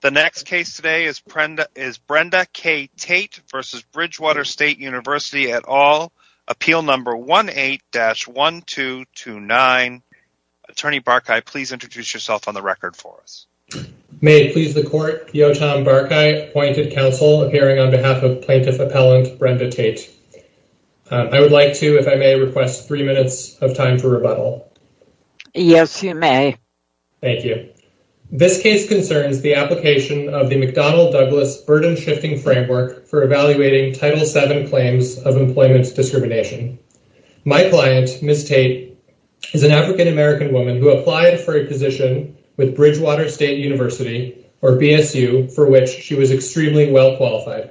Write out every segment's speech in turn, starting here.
The next case today is Brenda K. Tait v. Bridgewater State University et al. Appeal number 18-1229. Attorney Barkay, please introduce yourself on the record for us. May it please the court, Giotam Barkay, appointed counsel, appearing on behalf of plaintiff appellant Brenda Tait. I would like to, if I may, request three minutes of time for rebuttal. Yes, you may. Thank you. This case concerns the application of the McDonnell-Douglas burden-shifting framework for evaluating Title VII claims of employment discrimination. My client, Ms. Tait, is an African-American woman who applied for a position with Bridgewater State University, or BSU, for which she was extremely well qualified.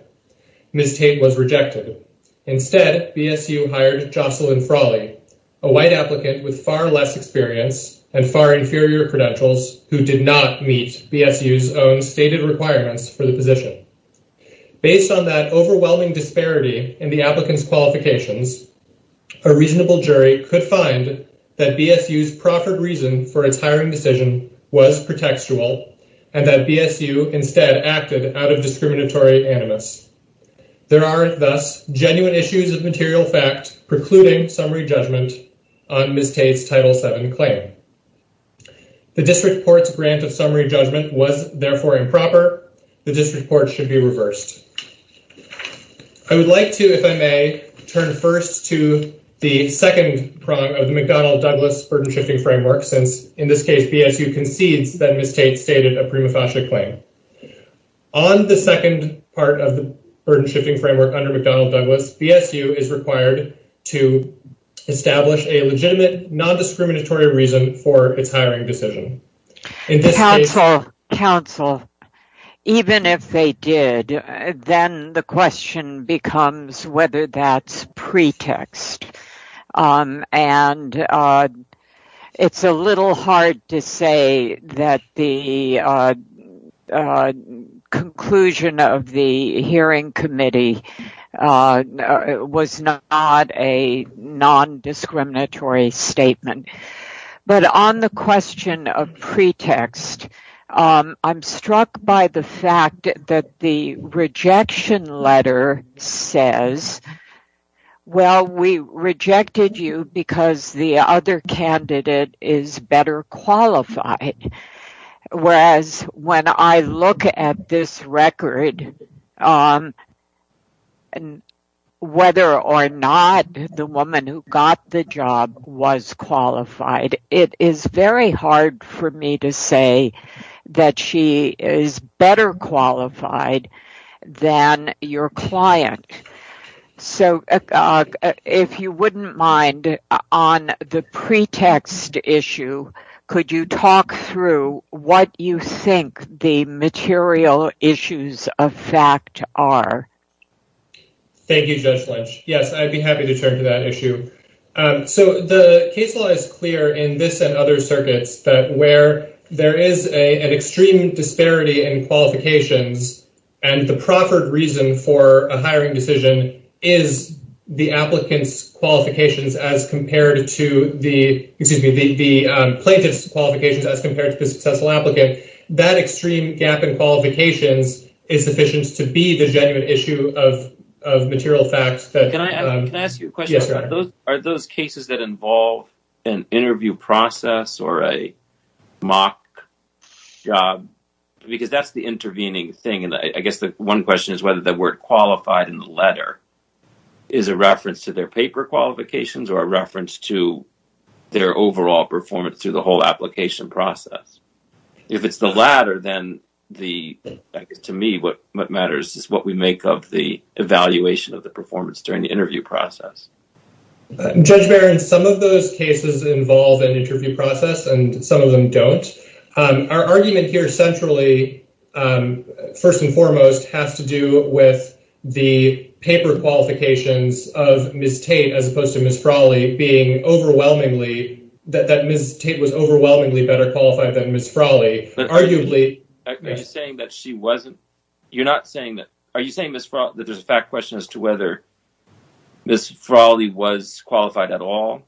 Ms. Tait was rejected. Instead, BSU hired Jocelyn Frawley, a white applicant with far less experience and far inferior credentials who did not meet BSU's own stated requirements for the position. Based on that overwhelming disparity in the applicant's qualifications, a reasonable jury could find that BSU's proffered reason for its hiring decision was pretextual and that BSU instead acted out of discriminatory animus. There are, thus, genuine issues of material fact precluding summary judgment on Ms. Tait's Title VII claim. The district court's grant of summary judgment was therefore improper. The district court should be reversed. I would like to, if I may, turn first to the second prong of the McDonnell-Douglas burden-shifting framework, since in this case BSU concedes that Ms. Tait stated a prima facie claim. On the second part of the burden-shifting framework under McDonnell- Douglas, BSU is required to establish a legitimate non-discriminatory reason for its hiring decision. Counsel, even if they did, then the question becomes whether that's pretext, and it's a little hard to say that the conclusion of the hearing committee was not a non-discriminatory statement. But on the question of pretext, I'm struck by the fact that the rejection letter says, well, we rejected you because the other candidate is better qualified. Whereas when I look at this record, whether or not the woman who got the job was qualified, it is very hard for me to say that she is better qualified than your client. So if you wouldn't mind, on the pretext issue, could you talk through what you think the material issues of fact are? Thank you, Judge Lynch. Yes, I'd be happy to turn to that issue. So the case law is clear in this and other circuits that where there is an extreme disparity in qualifications and the proffered reason for a hiring decision is the applicant's qualifications as compared to the plaintiff's qualifications as compared to the successful applicant, that extreme gap in qualifications is sufficient to be the genuine issue of material facts. Can I ask you a question? Are those cases that involve an interview process or a mock job? Because that's the intervening thing. And I guess the one question is whether the word qualified in the letter is a reference to their paper qualifications or a reference to their overall performance through the whole application process. If it's the latter, then to me what matters is what we make of the evaluation of the performance during the interview process. Judge Barron, some of those cases involve an interview process and some of them don't. Our argument here centrally, first and foremost, has to do with the paper qualifications of Ms. Tate as opposed to Ms. Frawley being overwhelmingly, that Ms. Tate was overwhelmingly better qualified than Ms. Frawley. Are you saying that there's a fact question as to whether Ms. Frawley was qualified at all?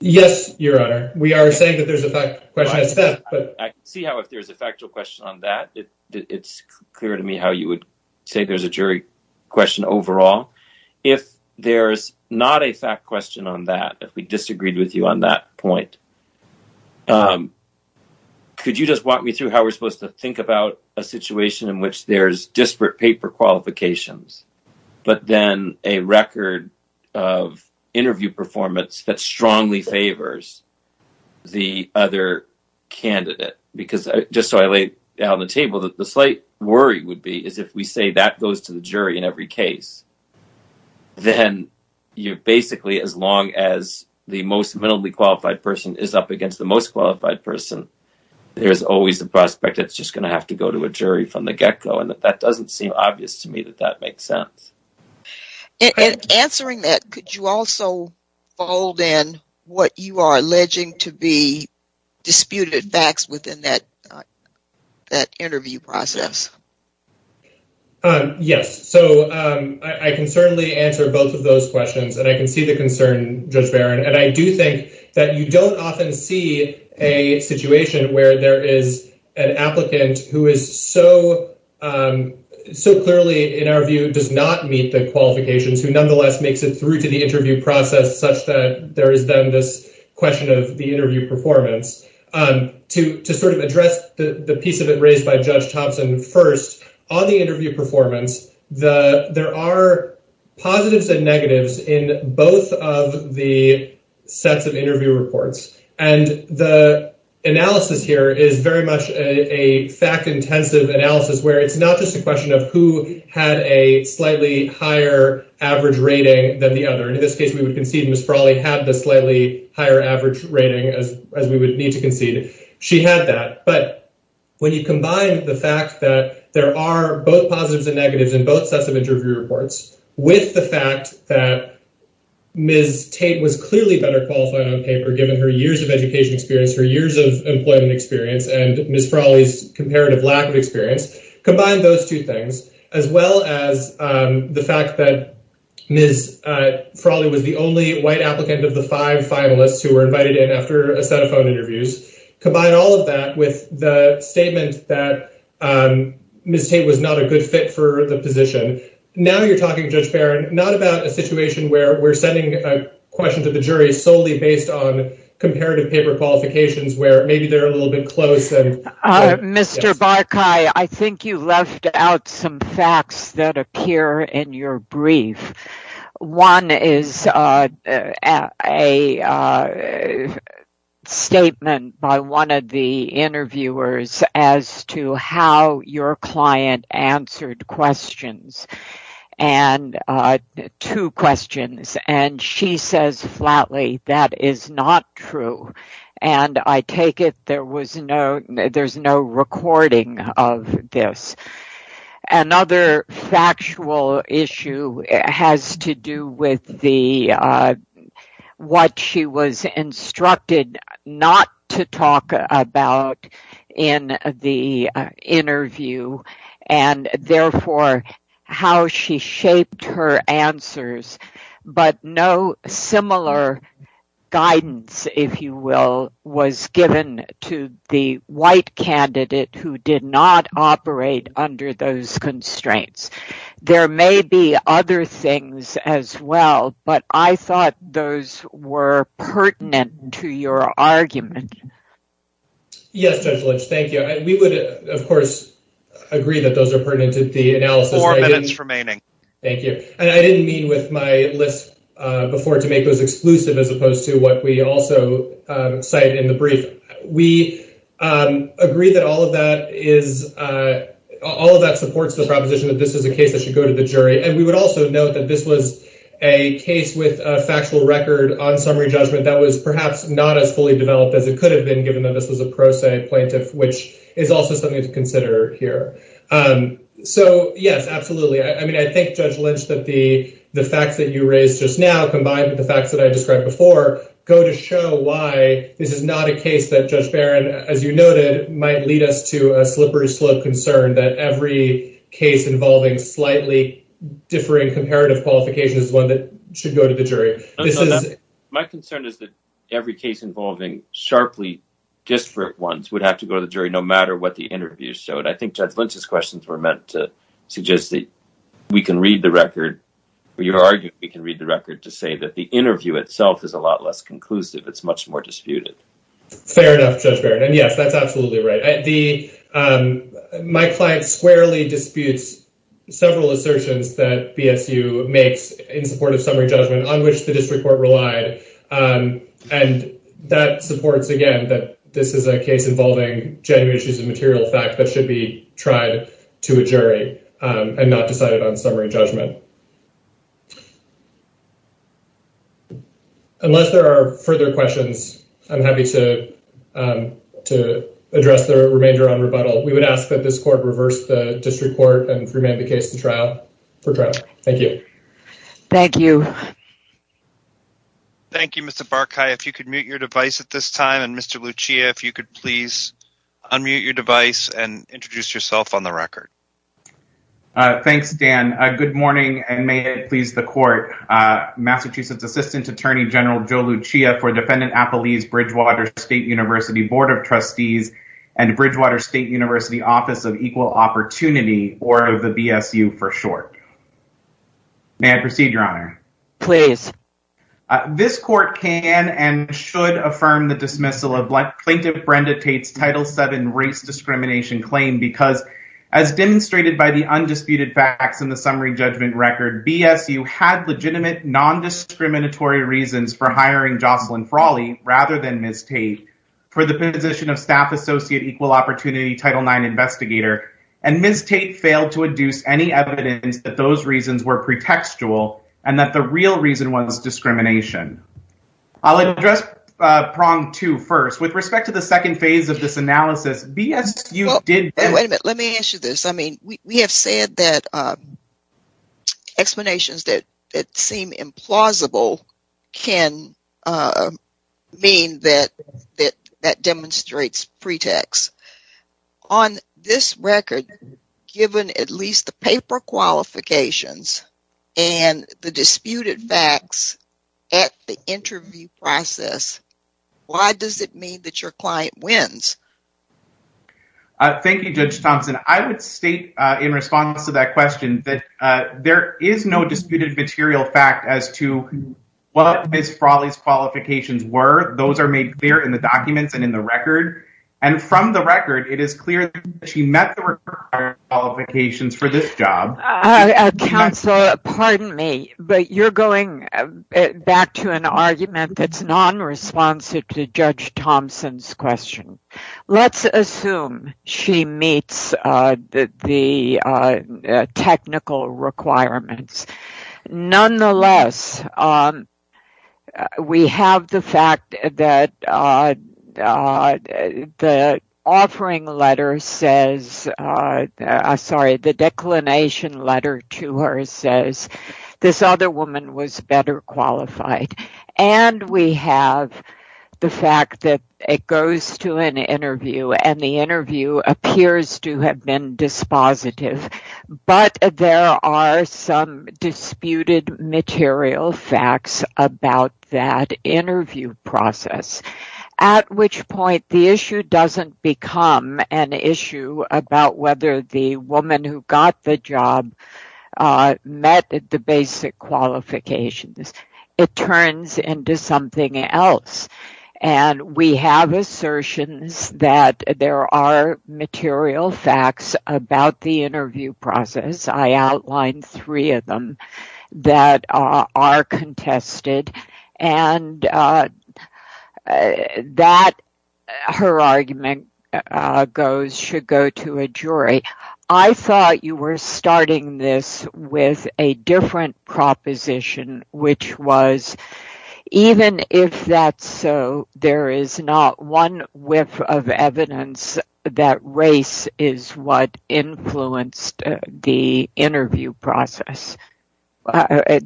Yes, Your Honor. We are saying that there's a fact question. I can see how if there's a factual question on that, it's clear to me how you would say there's a jury question overall. If there's not a fact question on that, if we disagreed with you on that point, could you just walk me through how we're supposed to think about a situation in which there's disparate paper qualifications, but then a record of interview performance that strongly favors the other candidate? Because just so I laid out on the table that the slight worry would be is if we say that goes to the jury in every case, then basically as long as the most minimally qualified person is up against the most qualified person, there's always the prospect that it's just going to have to go to a jury from the get-go. That doesn't seem obvious to me that that makes sense. In answering that, could you also fold in what you are alleging to be true? Yes. So I can certainly answer both of those questions, and I can see the concern, Judge Barron. And I do think that you don't often see a situation where there is an applicant who is so clearly, in our view, does not meet the qualifications, who nonetheless makes it through to the interview process such that there is then this question of the interview performance. To address the piece of it raised by Judge Thompson, first, on the interview performance, there are positives and negatives in both of the sets of interview reports. And the analysis here is very much a fact-intensive analysis where it's not just a question of who had a slightly higher average rating than the other. In this case, we would concede Ms. Frawley had the slightly higher rating as we would need to concede. She had that. But when you combine the fact that there are both positives and negatives in both sets of interview reports with the fact that Ms. Tate was clearly better qualified on paper given her years of education experience, her years of employment experience, and Ms. Frawley's comparative lack of experience, combine those two things, as well as the fact that Ms. Frawley was the only white applicant of the five finalists who were invited in after a set of phone interviews, combine all of that with the statement that Ms. Tate was not a good fit for the position. Now you're talking, Judge Barron, not about a situation where we're sending a question to the jury solely based on comparative paper qualifications where maybe they're a little bit closer. Mr. Barkay, I think you left out some facts that appear in your brief. One is a statement by one of the interviewers as to how your client answered two questions. She says flatly, that is not true. I take it there was no recording of this. Another factual issue has to do with what she was instructed not to talk about in the interview. And therefore, how she shaped her answers. But no similar guidance, if you will, was given to the white candidate who did not operate under those constraints. There may be other things as well, but I thought those were pertinent to your argument. Yes, Judge Lynch, thank you. We of course agree that those are pertinent to the analysis. Four minutes remaining. Thank you. And I didn't mean with my list before to make those exclusive as opposed to what we also cite in the brief. We agree that all of that supports the proposition that this is a case that should go to the jury. And we would also note that this was a case with a factual record on summary judgment that was perhaps not as fully developed as it could have been given that this was a pro se plaintiff, which is also something to consider here. So yes, absolutely. I mean, I think Judge Lynch, that the facts that you raised just now, combined with the facts that I described before, go to show why this is not a case that Judge Barron, as you noted, might lead us to a slippery slope concern that every case involving slightly differing comparative qualifications is one that should go to the jury. My concern is that every case involving sharply disparate ones would have to go to the jury no matter what the interview showed. I think Judge Lynch's questions were meant to suggest that we can read the record, or you're arguing we can read the record to say that the interview itself is a lot less conclusive. It's much more disputed. Fair enough, Judge Barron. And yes, that's absolutely right. My client squarely disputes several assertions that BSU makes in support of summary judgment on which the district court relied. And that supports, again, that this is a case involving genuine issues of material fact that should be tried to a jury and not decided on summary judgment. Unless there are further questions, I'm happy to address the remainder on rebuttal. We would ask that this court reverse the district court and remand the case to trial for trial. Thank you. Thank you. Thank you, Mr. Barkai. If you could mute your device at this time, and Mr. Lucia, if you could please unmute your device and introduce yourself on the record. Thanks, Dan. Good morning, and may it please the court. Massachusetts Assistant Attorney General Joe Lucia for Defendant Appelee's Bridgewater State University Board of Trustees and Bridgewater State University Office of Equal Opportunity, or the BSU for short. May I proceed, Your Honor? Please. This court can and should affirm the dismissal of plaintiff Brenda Tate's Title VII race discrimination claim because, as demonstrated by the undisputed facts in the summary judgment record, BSU had legitimate non-discriminatory reasons for hiring Jocelyn Frawley rather than Ms. Tate for the position of Staff Associate Equal Opportunity Title IX Investigator, and Ms. Tate failed to induce any evidence that those reasons were pretextual and that the real reason was discrimination. I'll address prong two first. With respect to the second phase of this analysis, BSU did... Wait a minute. Let me answer this. I mean, we have said that explanations that seem implausible can mean that that demonstrates pretext. On this record, given at least the paper qualifications and the disputed facts at the interview process, why does it mean that your client wins? Thank you, Judge Thompson. I would state in response to that question that there is no disputed material fact as to what Ms. Frawley's qualifications were. Those are made clear in documents and in the record, and from the record, it is clear that she met the required qualifications for this job. Counsel, pardon me, but you're going back to an argument that's non-responsive to Judge Thompson's question. Let's assume she meets the technical requirements. Nonetheless, we have the fact that the declination letter to her says, this other woman was better qualified, and we have the fact that it goes to an interview and the interview appears to have been dispositive, but there are some disputed material facts about that interview process, at which point the issue doesn't become an issue about whether the woman who got the job met the basic qualifications. It turns into something else, and we have assertions that there are material facts about the interview process. I outlined three of them that are contested and that her argument should go to a jury. I thought you were starting this with a different evidence that race is what influenced the interview process.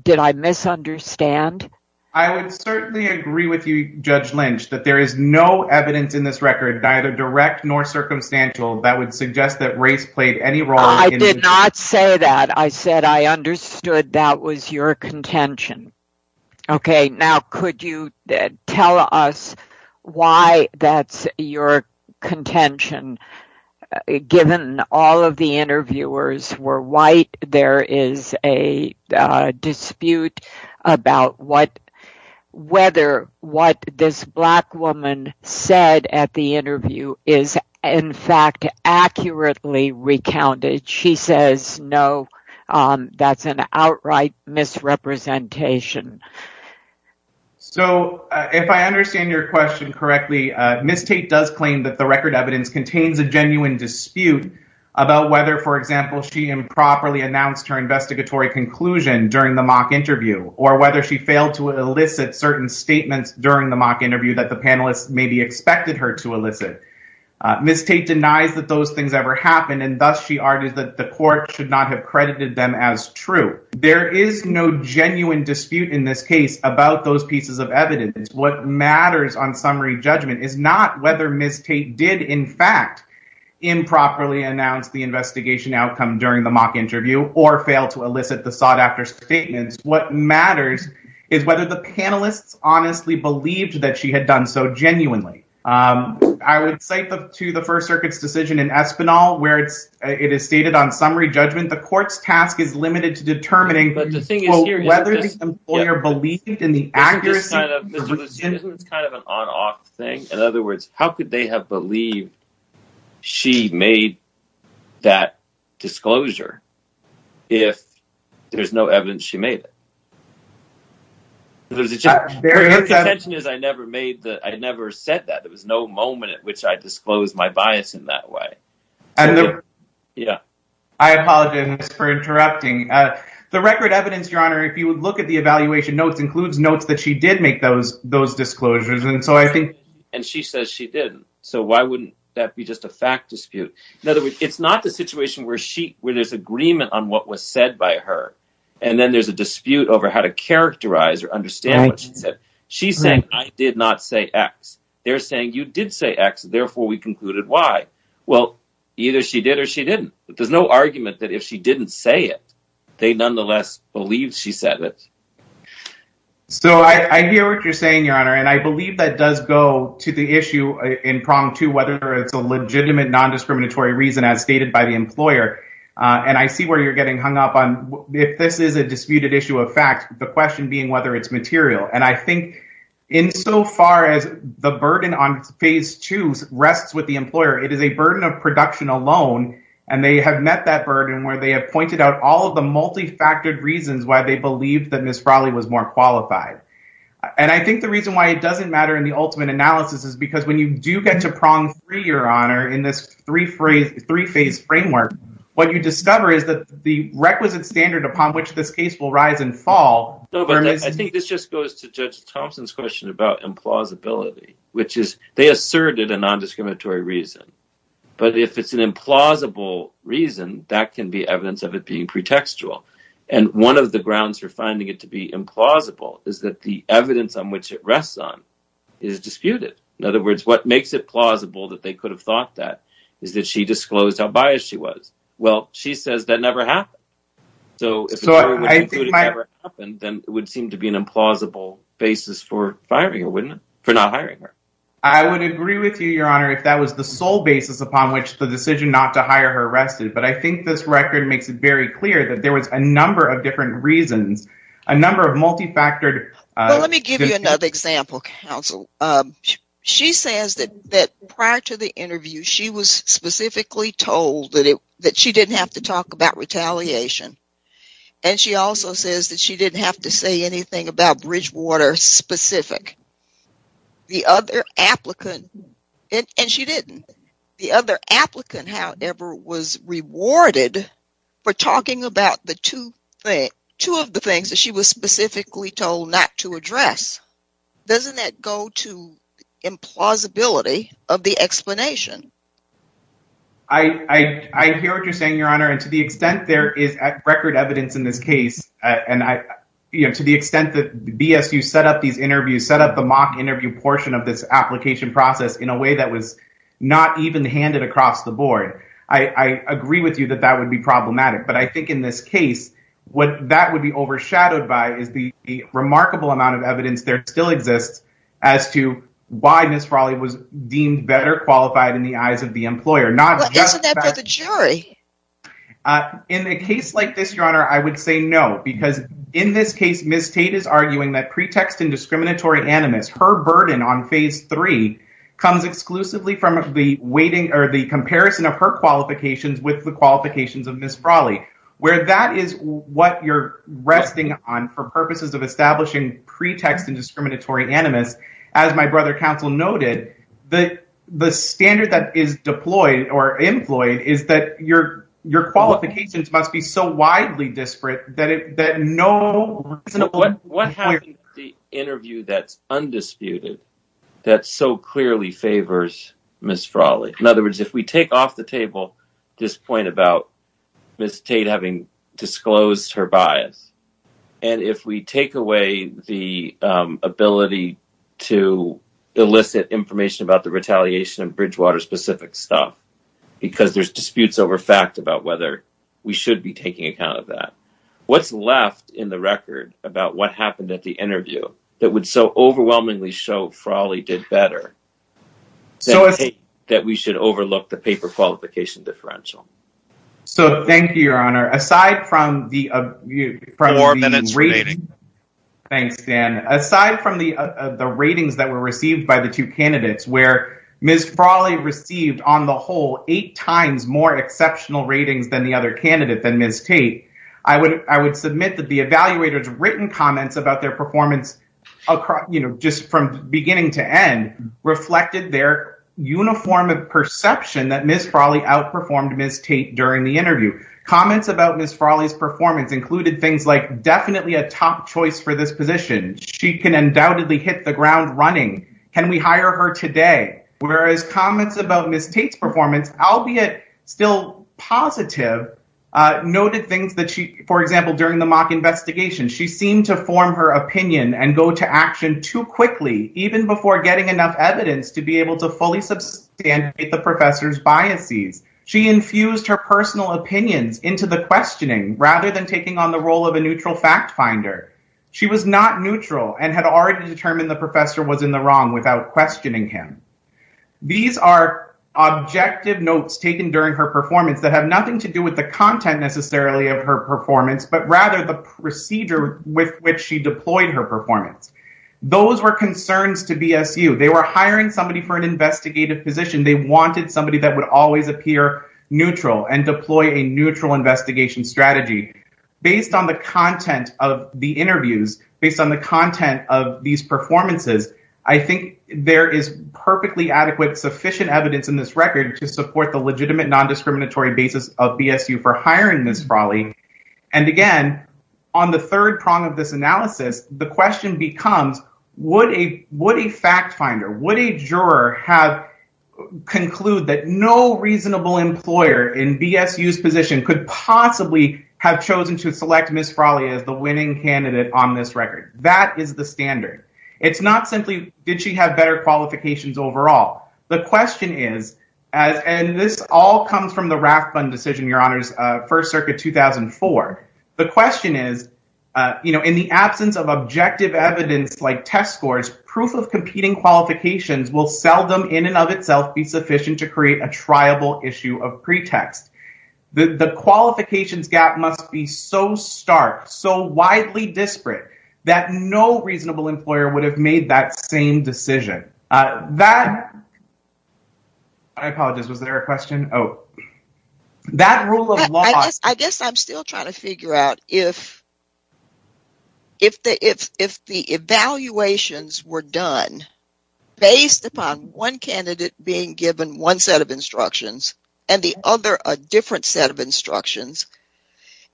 Did I misunderstand? I would certainly agree with you, Judge Lynch, that there is no evidence in this record, neither direct nor circumstantial, that would suggest that race played any role. I did not say that. I said I understood that was your contention. Okay, now could you tell us why that's your contention? Given all of the interviewers were white, there is a dispute about whether what this black woman said at the interview is, in fact, accurately recounted. She says, no, that's an outright misrepresentation. So, if I understand your question correctly, Ms. Tate does claim that the record evidence contains a genuine dispute about whether, for example, she improperly announced her investigatory conclusion during the mock interview or whether she failed to elicit certain statements during the mock interview that the panelists maybe expected her to elicit. Ms. Tate denies that those things ever happened, and thus she argued that the court should not have credited them as true. There is no genuine dispute in this case about those pieces of evidence. What matters on summary judgment is not whether Ms. Tate did, in fact, improperly announce the investigation outcome during the mock interview or fail to elicit the sought-after statements. What matters is whether the panelists honestly believed that she had done so genuinely. I would cite to the First Circuit's decision in Espinal, where it is stated on summary judgment, the court's task is limited to determining whether the employer believed in the accuracy. This is kind of an on-off thing. In other words, how could they have believed she made that disclosure if there's no evidence she made it? Her contention is I never said that. There was no moment at which I disclosed my bias in that way. I apologize for interrupting. The record evidence, Your Honor, if you would look at the evaluation notes, includes notes that she did make those disclosures. And she says she didn't, so why wouldn't that be just a fact dispute? In other words, it's not the situation where there's agreement on what was said by her, and then there's a dispute over how to characterize or understand what she said. She's saying I did not say X. They're saying you did say X, therefore we concluded Y. Well, either she did or she didn't. There's no argument that if she didn't say it, they nonetheless believed she said it. So I hear what you're saying, Your Honor, and I believe that does go to the issue in prong two, whether it's a legitimate non-discriminatory reason as stated by the court. If this is a disputed issue of fact, the question being whether it's material. And I think insofar as the burden on phase two rests with the employer, it is a burden of production alone. And they have met that burden where they have pointed out all of the multifactored reasons why they believe that Ms. Frawley was more qualified. And I think the reason why it doesn't matter in the ultimate analysis is because when you do get to prong three, Your Honor, in this three-phase framework, what you discover is that the requisite standard upon which this case will rise and fall. I think this just goes to Judge Thompson's question about implausibility, which is they asserted a non-discriminatory reason. But if it's an implausible reason, that can be evidence of it being pretextual. And one of the grounds for finding it to be implausible is that the evidence on which it rests on is disputed. In other words, what makes it plausible that they could have thought that is that she disclosed how biased she was. Well, she says that never happened. So if it never happened, then it would seem to be an implausible basis for firing her, wouldn't it? For not hiring her. I would agree with you, Your Honor, if that was the sole basis upon which the decision not to hire her rested. But I think this record makes it very clear that there was a number of different reasons, a number of multifactored... Well, let me give you another example, counsel. She says that prior to the interview, she was specifically told that she didn't have to talk about retaliation. And she also says that she didn't have to say anything about Bridgewater specific. And she didn't. The other applicant, however, was rewarded for talking about two of the things that she was specifically told not to address. Doesn't that go to implausibility of the explanation? I hear what you're saying, Your Honor. And to the extent there is record evidence in this case, and to the extent that BSU set up these interviews, set up the mock interview portion of this application process in a way that was not even handed across the board, I agree with you that that would be problematic. But I think in this case, what that would be overshadowed by is the remarkable amount of evidence there still exists as to why Ms. Brawley is the employer. Well, isn't that for the jury? In a case like this, Your Honor, I would say no. Because in this case, Ms. Tate is arguing that pretext and discriminatory animus, her burden on phase three, comes exclusively from the weighting or the comparison of her qualifications with the qualifications of Ms. Brawley. Where that is what you're resting on for purposes of establishing pretext and or employment is that your qualifications must be so widely disparate that no reasonable— What happens in the interview that's undisputed that so clearly favors Ms. Brawley? In other words, if we take off the table this point about Ms. Tate having disclosed her bias, and if we take away the ability to elicit information about the retaliation of Bridgewater specific stuff, because there's disputes over fact about whether we should be taking account of that, what's left in the record about what happened at the interview that would so overwhelmingly show Brawley did better that we should overlook the paper qualification differential? So, thank you, Your Honor. Aside from the— Four minutes remaining. Thanks, Dan. Aside from the ratings that were received by the two candidates where Ms. Brawley received on the whole eight times more exceptional ratings than the other candidate, than Ms. Tate, I would submit that the evaluators' written comments about their performance just from beginning to end reflected their uniform of perception that Ms. Brawley outperformed Ms. Tate during the interview. Comments about Ms. Brawley's performance included things like definitely a top choice for this position. She can undoubtedly hit the ground running. Can we hire her today? Whereas comments about Ms. Tate's performance, albeit still positive, noted things that she, for example, during the mock investigation, she seemed to form her opinion and go to action too quickly, even before getting enough evidence to be able to fully substantiate the professor's biases. She infused her personal opinions into the questioning rather than taking on the role of a neutral fact finder. She was not neutral and had already determined the professor was in the wrong without questioning him. These are objective notes taken during her performance that have nothing to do with the content necessarily of her performance, but rather the procedure with which she deployed her performance. Those were concerns to BSU. They were hiring somebody for an investigative position. They wanted somebody that would always appear neutral and deploy a neutral investigation strategy based on the content of the interviews, based on the content of these performances. I think there is perfectly adequate sufficient evidence in this record to support the legitimate non-discriminatory basis of BSU for hiring Ms. Brawley. And again, on the third prong of this analysis, the question becomes, would a fact finder, would a juror conclude that no reasonable employer in BSU's position could possibly have this record? That is the standard. It's not simply, did she have better qualifications overall? The question is, and this all comes from the Rathbun decision, your honors, First Circuit 2004. The question is, in the absence of objective evidence like test scores, proof of competing qualifications will seldom in and of itself be sufficient to create a triable issue of pretext. The qualifications gap must be so stark, so widely disparate, that no reasonable employer would have made that same decision. I apologize, was there a question? I guess I'm still trying to figure out if the evaluations were done based upon one candidate being given one set of instructions and the other a different set of instructions,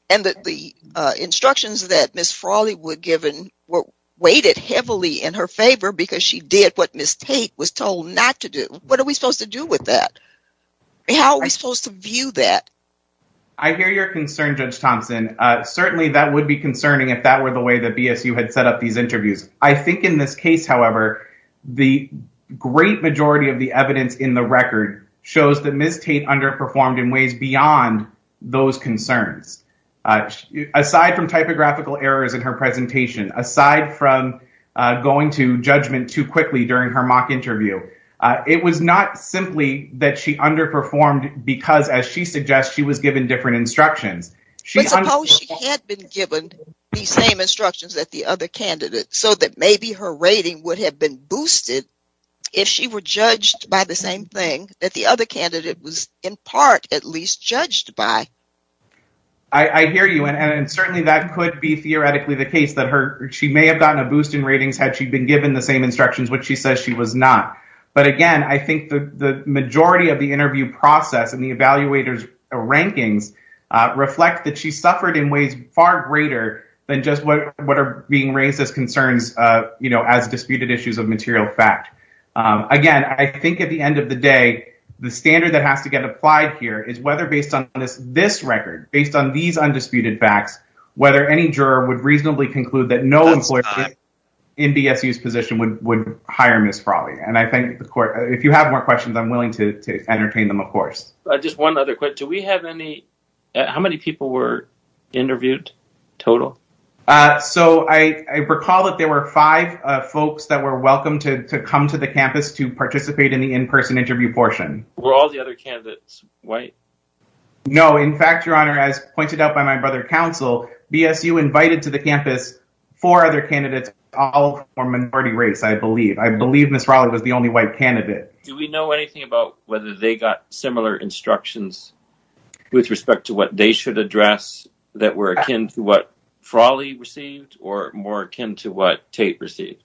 and that the instructions that Ms. Brawley were given were weighted heavily in her favor because she did what Ms. Tate was told not to do. What are we supposed to do with that? How are we supposed to view that? I hear your concern, Judge Thompson. Certainly that would be concerning if that were the way that BSU had set up these interviews. I think in this case, however, the great majority of the evidence in the record shows that Ms. Tate underperformed in ways beyond those concerns. Aside from typographical errors in her presentation, aside from going to judgment too quickly during her mock interview, it was not simply that she underperformed because, as she suggests, she was given different instructions. But suppose she had been given the same instructions that the other candidate, so that maybe her rating would have been boosted if she were judged by the same thing that the other candidate was in part at least judged by. I hear you, and certainly that could be theoretically the case that she may have gotten a boost in ratings had she been given the same instructions, which she says she was not. But again, I think the majority of the interview process and the evaluators' rankings reflect that she suffered in ways far greater than just what are being raised as concerns, you know, as disputed issues of material fact. Again, I think at the end of the day, the standard that has to get applied here is whether based on this record, based on these undisputed facts, whether any juror would reasonably conclude that no employer in BSU's position would hire Ms. Frawley. And I thank the court. If you have more questions, I'm willing to entertain them, of course. How many people were interviewed total? So I recall that there were five folks that were welcome to come to the campus to participate in the in-person interview portion. Were all the other candidates white? No. In fact, Your Honor, as pointed out by my brother counsel, BSU invited to the campus four other candidates, all from minority race, I believe. I believe Ms. Frawley was the only white candidate. Do we know anything about whether they got similar instructions with respect to what they should address that were akin to what Frawley received or more akin to what Tate received?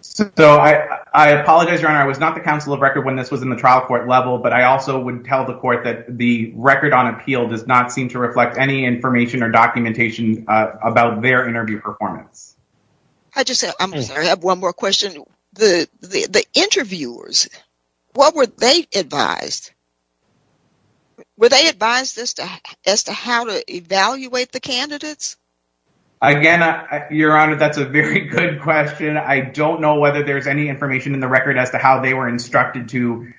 So I apologize, Your Honor. I was not the counsel of record when this was in the trial court level, but I also would tell the court that the record on appeal does not seem to reflect any information or documentation about their interview performance. I just have one more question. The interviewers, what were they advised? Were they advised as to how to evaluate the candidates? Again, Your Honor, that's a very good question. I don't know whether there's any information in the record as to how they were instructed to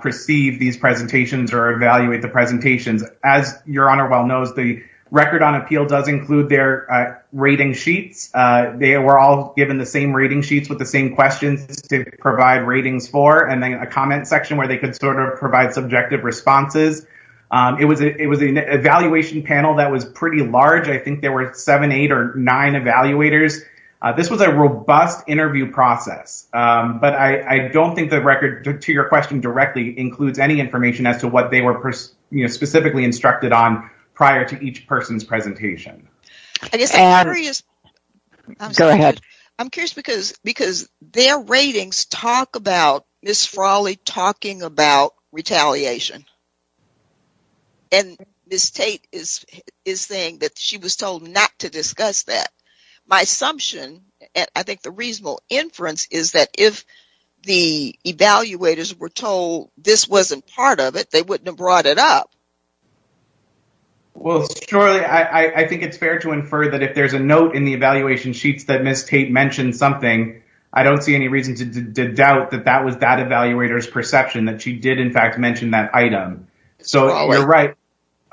perceive these presentations or evaluate the presentations. As Your Honor well knows, the record on appeal does include their rating sheets. They were all given the same rating sheets with the same questions to provide ratings for and then a comment section where they could sort of provide subjective responses. It was an evaluation panel that was pretty large. I think there were seven, eight or nine evaluators. This was a robust interview process, but I don't think the record to your question directly includes any information as to what they were specifically instructed on prior to each person's presentation. I'm curious because their ratings talk about Ms. Frawley talking about retaliation and Ms. Tate is saying that she was told not to discuss that. My assumption and I think the reasonable inference is that if the evaluators were told this wasn't part of it, they wouldn't have brought it up. Well, surely I think it's fair to infer that if there's a note in the evaluation sheets that Ms. Tate mentioned something, I don't see any reason to doubt that that was that evaluator's perception that she did in fact mention that item.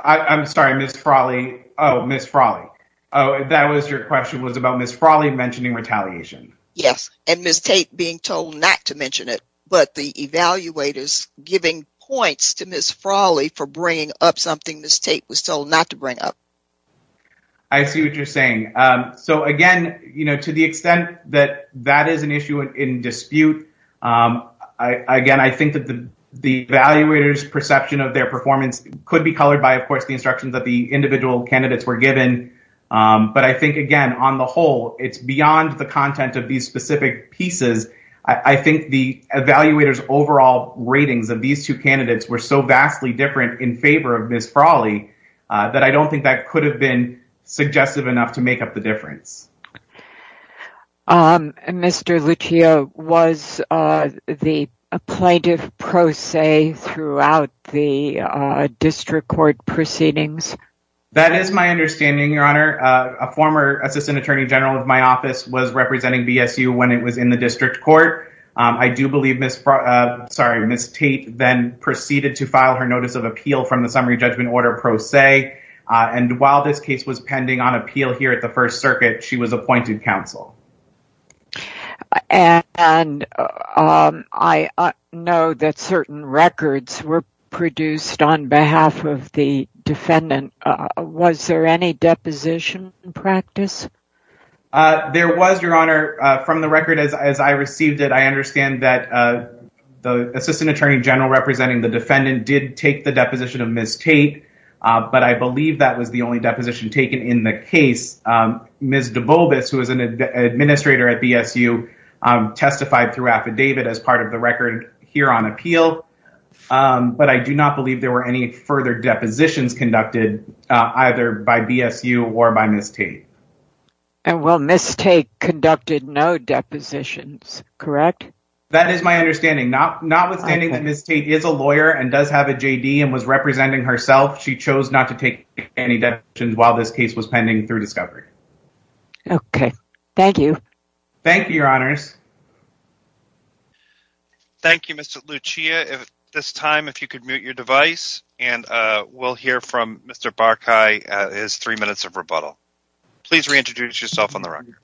I'm sorry, Ms. Frawley. Oh, Ms. Frawley. That was your question was about Ms. Frawley mentioning retaliation. Yes, and Ms. Tate being told not to mention it, but the evaluators giving points to Ms. Frawley for bringing up something Ms. Tate was told not to bring up. I see what you're saying. So again, to the extent that that is an issue in dispute, again, I think that the evaluators perception of their performance could be colored by, of course, the instructions that the individual candidates were given, but I think, again, on the whole, it's beyond the content of these specific pieces. I think the evaluators overall ratings of these two candidates were so vastly different in favor of Ms. Frawley that I don't think that could have been suggestive enough to make up the difference. Mr. Luccio, was the plaintiff pro se throughout the district court proceedings? That is my understanding, Your Honor. A former assistant attorney general of my office was in the district court. I do believe Ms. Tate then proceeded to file her notice of appeal from the summary judgment order pro se, and while this case was pending on appeal here at the First Circuit, she was appointed counsel. And I know that certain records were produced on behalf of the defendant. Was there any deposition in practice? There was, Your Honor, from the record as I received it, I understand that the assistant attorney general representing the defendant did take the deposition of Ms. Tate, but I believe that was the only deposition taken in the case. Ms. DeBobas, who is an administrator at BSU, testified through affidavit as part of the record here on appeal, but I do not believe there were any further depositions conducted either by BSU or by Ms. Tate. And while Ms. Tate conducted no depositions, correct? That is my understanding. Notwithstanding that Ms. Tate is a lawyer and does have a JD and was representing herself, she chose not to take any depositions while this case was pending through discovery. Okay, thank you. Thank you, Your Honors. Thank you, Mr. Luccio. At this time, if you could mute your device, and we'll hear from Mr. Barkai, his three minutes of rebuttal. Please reintroduce yourself on the record.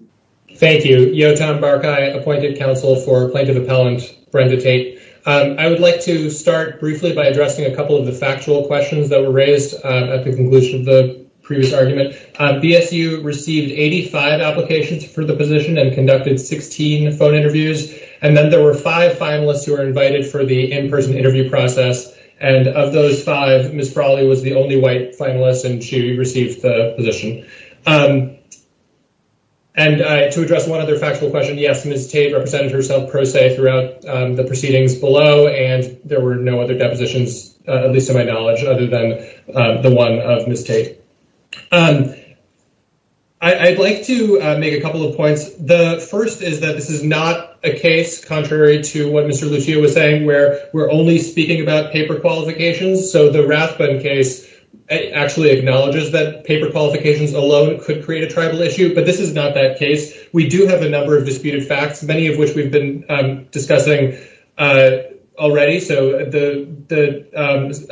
Thank you. Yotam Barkai, appointed counsel for plaintiff appellant Brenda Tate. I would like to start briefly by addressing a couple of the factual questions that were raised at the conclusion of the previous argument. BSU received 85 applications for the position and conducted 16 phone interviews, and then there were five finalists who were and of those five, Ms. Frawley was the only white finalist and she received the position. And to address one other factual question, yes, Ms. Tate represented herself pro se throughout the proceedings below, and there were no other depositions, at least to my knowledge, other than the one of Ms. Tate. I'd like to make a couple of points. The first is that this is not a case, contrary to what Mr. Luccio was saying, where we're only speaking about paper qualifications. So the Rathbun case actually acknowledges that paper qualifications alone could create a tribal issue, but this is not that case. We do have a number of disputed facts, many of which we've been discussing already. So the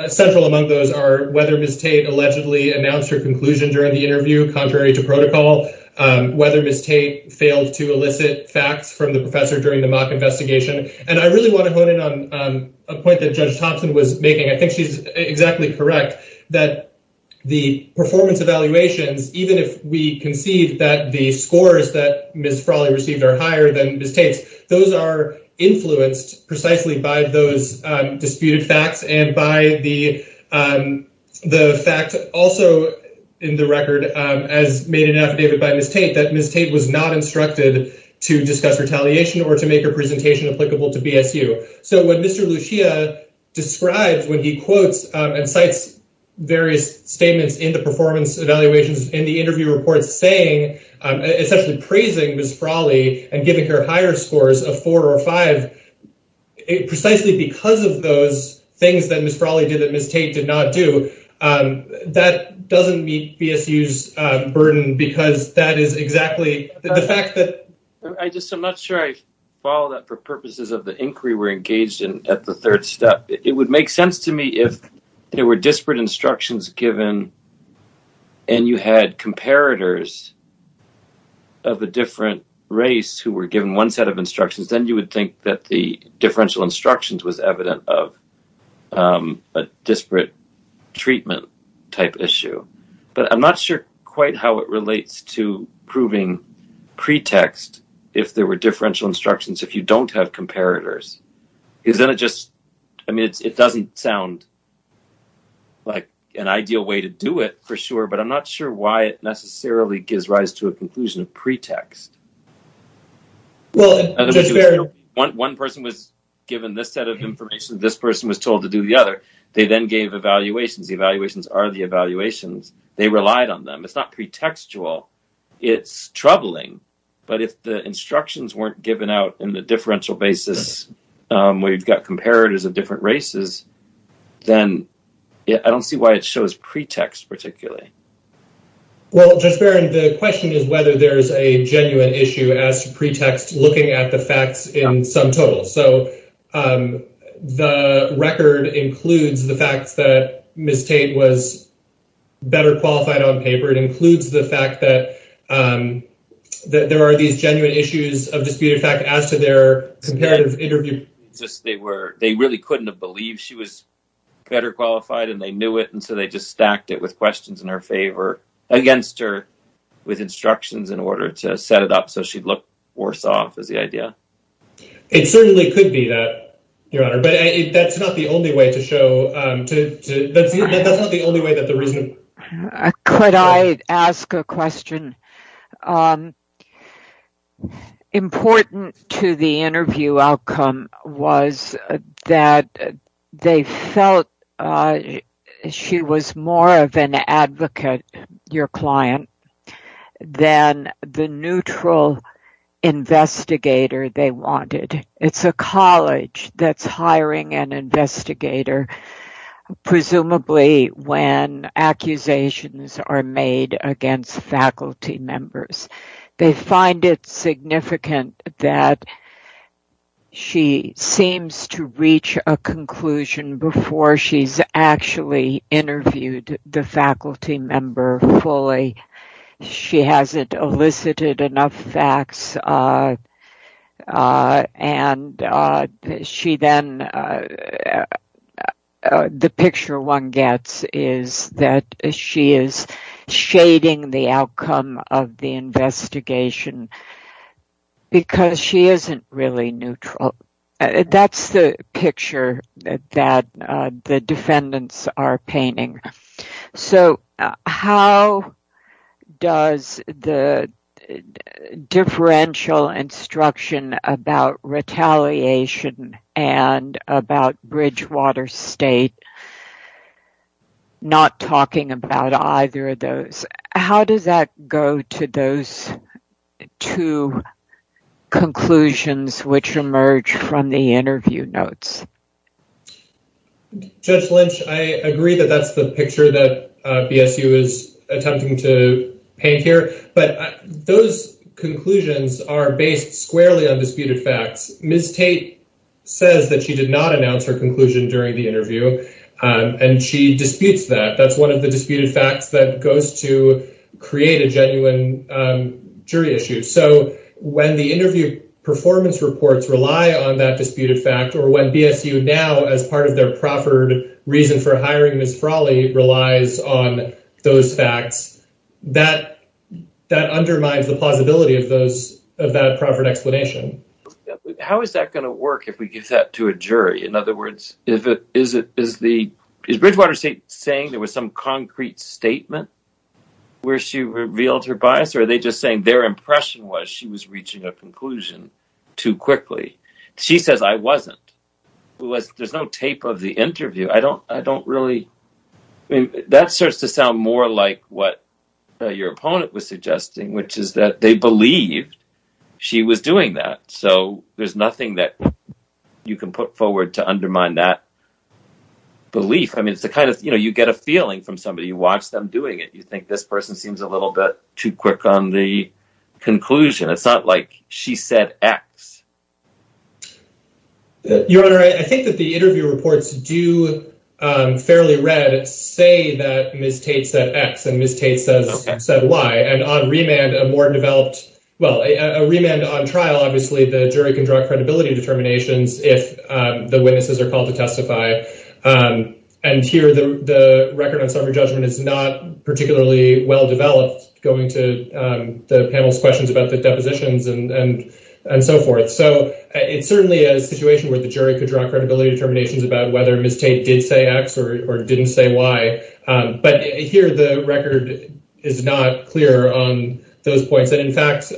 central among those are whether Ms. Tate allegedly announced her conclusion during the interview, contrary to protocol, whether Ms. Tate failed to elicit facts from the professor during the mock investigation. And I really want to hone in on a point that Judge Thompson was making. I think she's exactly correct that the performance evaluations, even if we concede that the scores that Ms. Frawley received are higher than Ms. Tate's, those are influenced precisely by those disputed facts and by the fact also in the record, as made in affidavit by Ms. Tate, that Ms. Tate was not instructed to discuss retaliation or to make a presentation applicable to BSU. So what Mr. Luccio describes when he quotes and cites various statements in the performance evaluations in the interview report saying, essentially praising Ms. Frawley and giving her higher scores of four or five, precisely because of those things that Ms. Frawley did that Ms. Tate did not do, that doesn't meet BSU's burden because that is exactly the fact that... I just, I'm not sure I follow that for purposes of the inquiry we're engaged in at the third step. It would make sense to me if there were disparate instructions given and you had comparators of a different race who were given one set of instructions, then you would think that the differential instructions was evident of a disparate treatment type issue. But I'm not sure quite how it relates to proving pretext if there were differential instructions if you don't have comparators. Isn't it just, I mean it doesn't sound like an ideal way to do it for sure, but I'm not sure why it necessarily gives rise to a conclusion of pretext. Well, Judge Barron... One person was given this set of information, this person was told to do the other, they then gave evaluations, the evaluations are the evaluations, they relied on them. It's not pretextual, it's troubling, but if the instructions weren't given out in the differential basis where you've got comparators of different races, then I don't see why it shows pretext particularly. Well, Judge Barron, the question is whether there's a genuine issue as to pretext looking at the facts in sum total. So, the record includes the fact that Ms. Tate was better qualified on paper, it includes the fact that there are these genuine issues of disputed fact as to their comparative interview. They really couldn't have believed she was better qualified and they knew it, so they just stacked it with questions in her favor against her with instructions in order to set it up so she'd look worse off is the idea. It certainly could be that, Your Honor, but that's not the only way to show... Could I ask a question? Um, important to the interview outcome was that they felt she was more of an advocate, your client, than the neutral investigator they wanted. It's a college that's hiring an investigator, presumably when accusations are made against faculty members. They find it significant that she seems to reach a conclusion before she's actually interviewed the faculty member fully. She hasn't elicited enough facts and the picture one gets is that she is shading the outcome of the investigation because she isn't really neutral. That's the picture that the defendants are painting. So, how does the differential instruction about retaliation and about Bridgewater State not talking about either of those, how does that go to those two conclusions which emerge from the interview notes? Judge Lynch, I agree that that's the picture that BSU is attempting to paint here, but those conclusions are based squarely on disputed facts. Ms. Tate says that she did not announce her conclusion during the interview and she disputes that. That's one of the disputed facts that goes to create a genuine jury issue. So, when the interview performance reports rely on that disputed fact or when BSU now as part of their proffered reason for hiring Ms. Frawley relies on those facts, that undermines the plausibility of that proffered explanation. How is that going to work if we give that to a jury? In other words, is Bridgewater State saying there was some concrete statement where she revealed her bias or are they just saying their impression was she was reaching a conclusion too quickly? She says I wasn't. There's no tape of the interview. That starts to sound more like what your opponent was suggesting which is that they believed she was doing that. So, there's nothing that you can put forward to undermine that belief. You get a feeling from somebody. You watch them doing it. You think this person seems a little bit too quick on the conclusion. It's not like she said X. Your Honor, I think that the interview reports do fairly read say that Ms. Tate said X and Ms. Tate said Y. A remand on trial, obviously, the jury can draw credibility determinations if the witnesses are called to testify. Here, the record on summary judgment is not particularly well developed going to the panel's questions about the depositions and so forth. It's certainly a situation where the jury could draw credibility determinations about whether Ms. Tate did say X or didn't say Y. Here, the record is not clear on those points. In fact,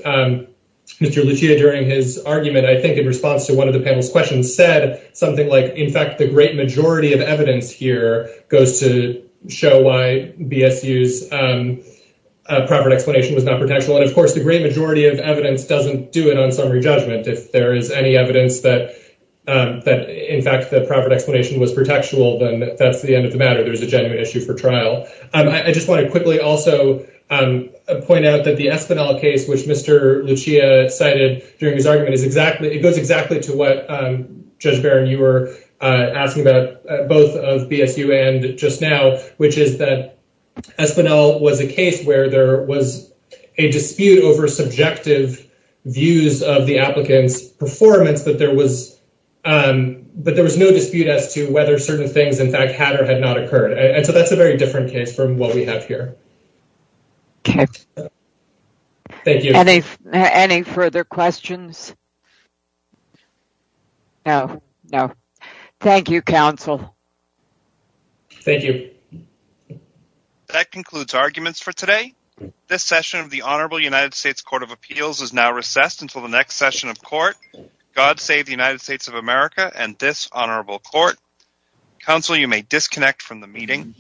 Mr. Lucia, during his argument, I think in response to one of the panel's questions, said something like, in fact, the great majority of evidence here goes to show why BSU's proper explanation was not protectional. Of course, the great majority of evidence doesn't do it on summary judgment. If there is any evidence that, in fact, the proper explanation was protectional, then that's the end of the matter. There's a genuine issue for trial. I just want to quickly also point out that the Espinal case, which Mr. Lucia cited during his argument, it goes exactly to what, Judge Barron, you were asking about both of BSU and just now, which is that Espinal was a case where there was a dispute over subjective views of the applicant's performance, but there was no dispute as to whether certain things, in fact, had or had not occurred. That's a very different case from what we have here. Thank you. Any further questions? No, no. Thank you, counsel. Thank you. That concludes arguments for today. This session of the Honorable United States Court of Appeals is now recessed until the next session of court, God Save the United States of America and Dishonorable Court. Counsel, you may disconnect from the meeting.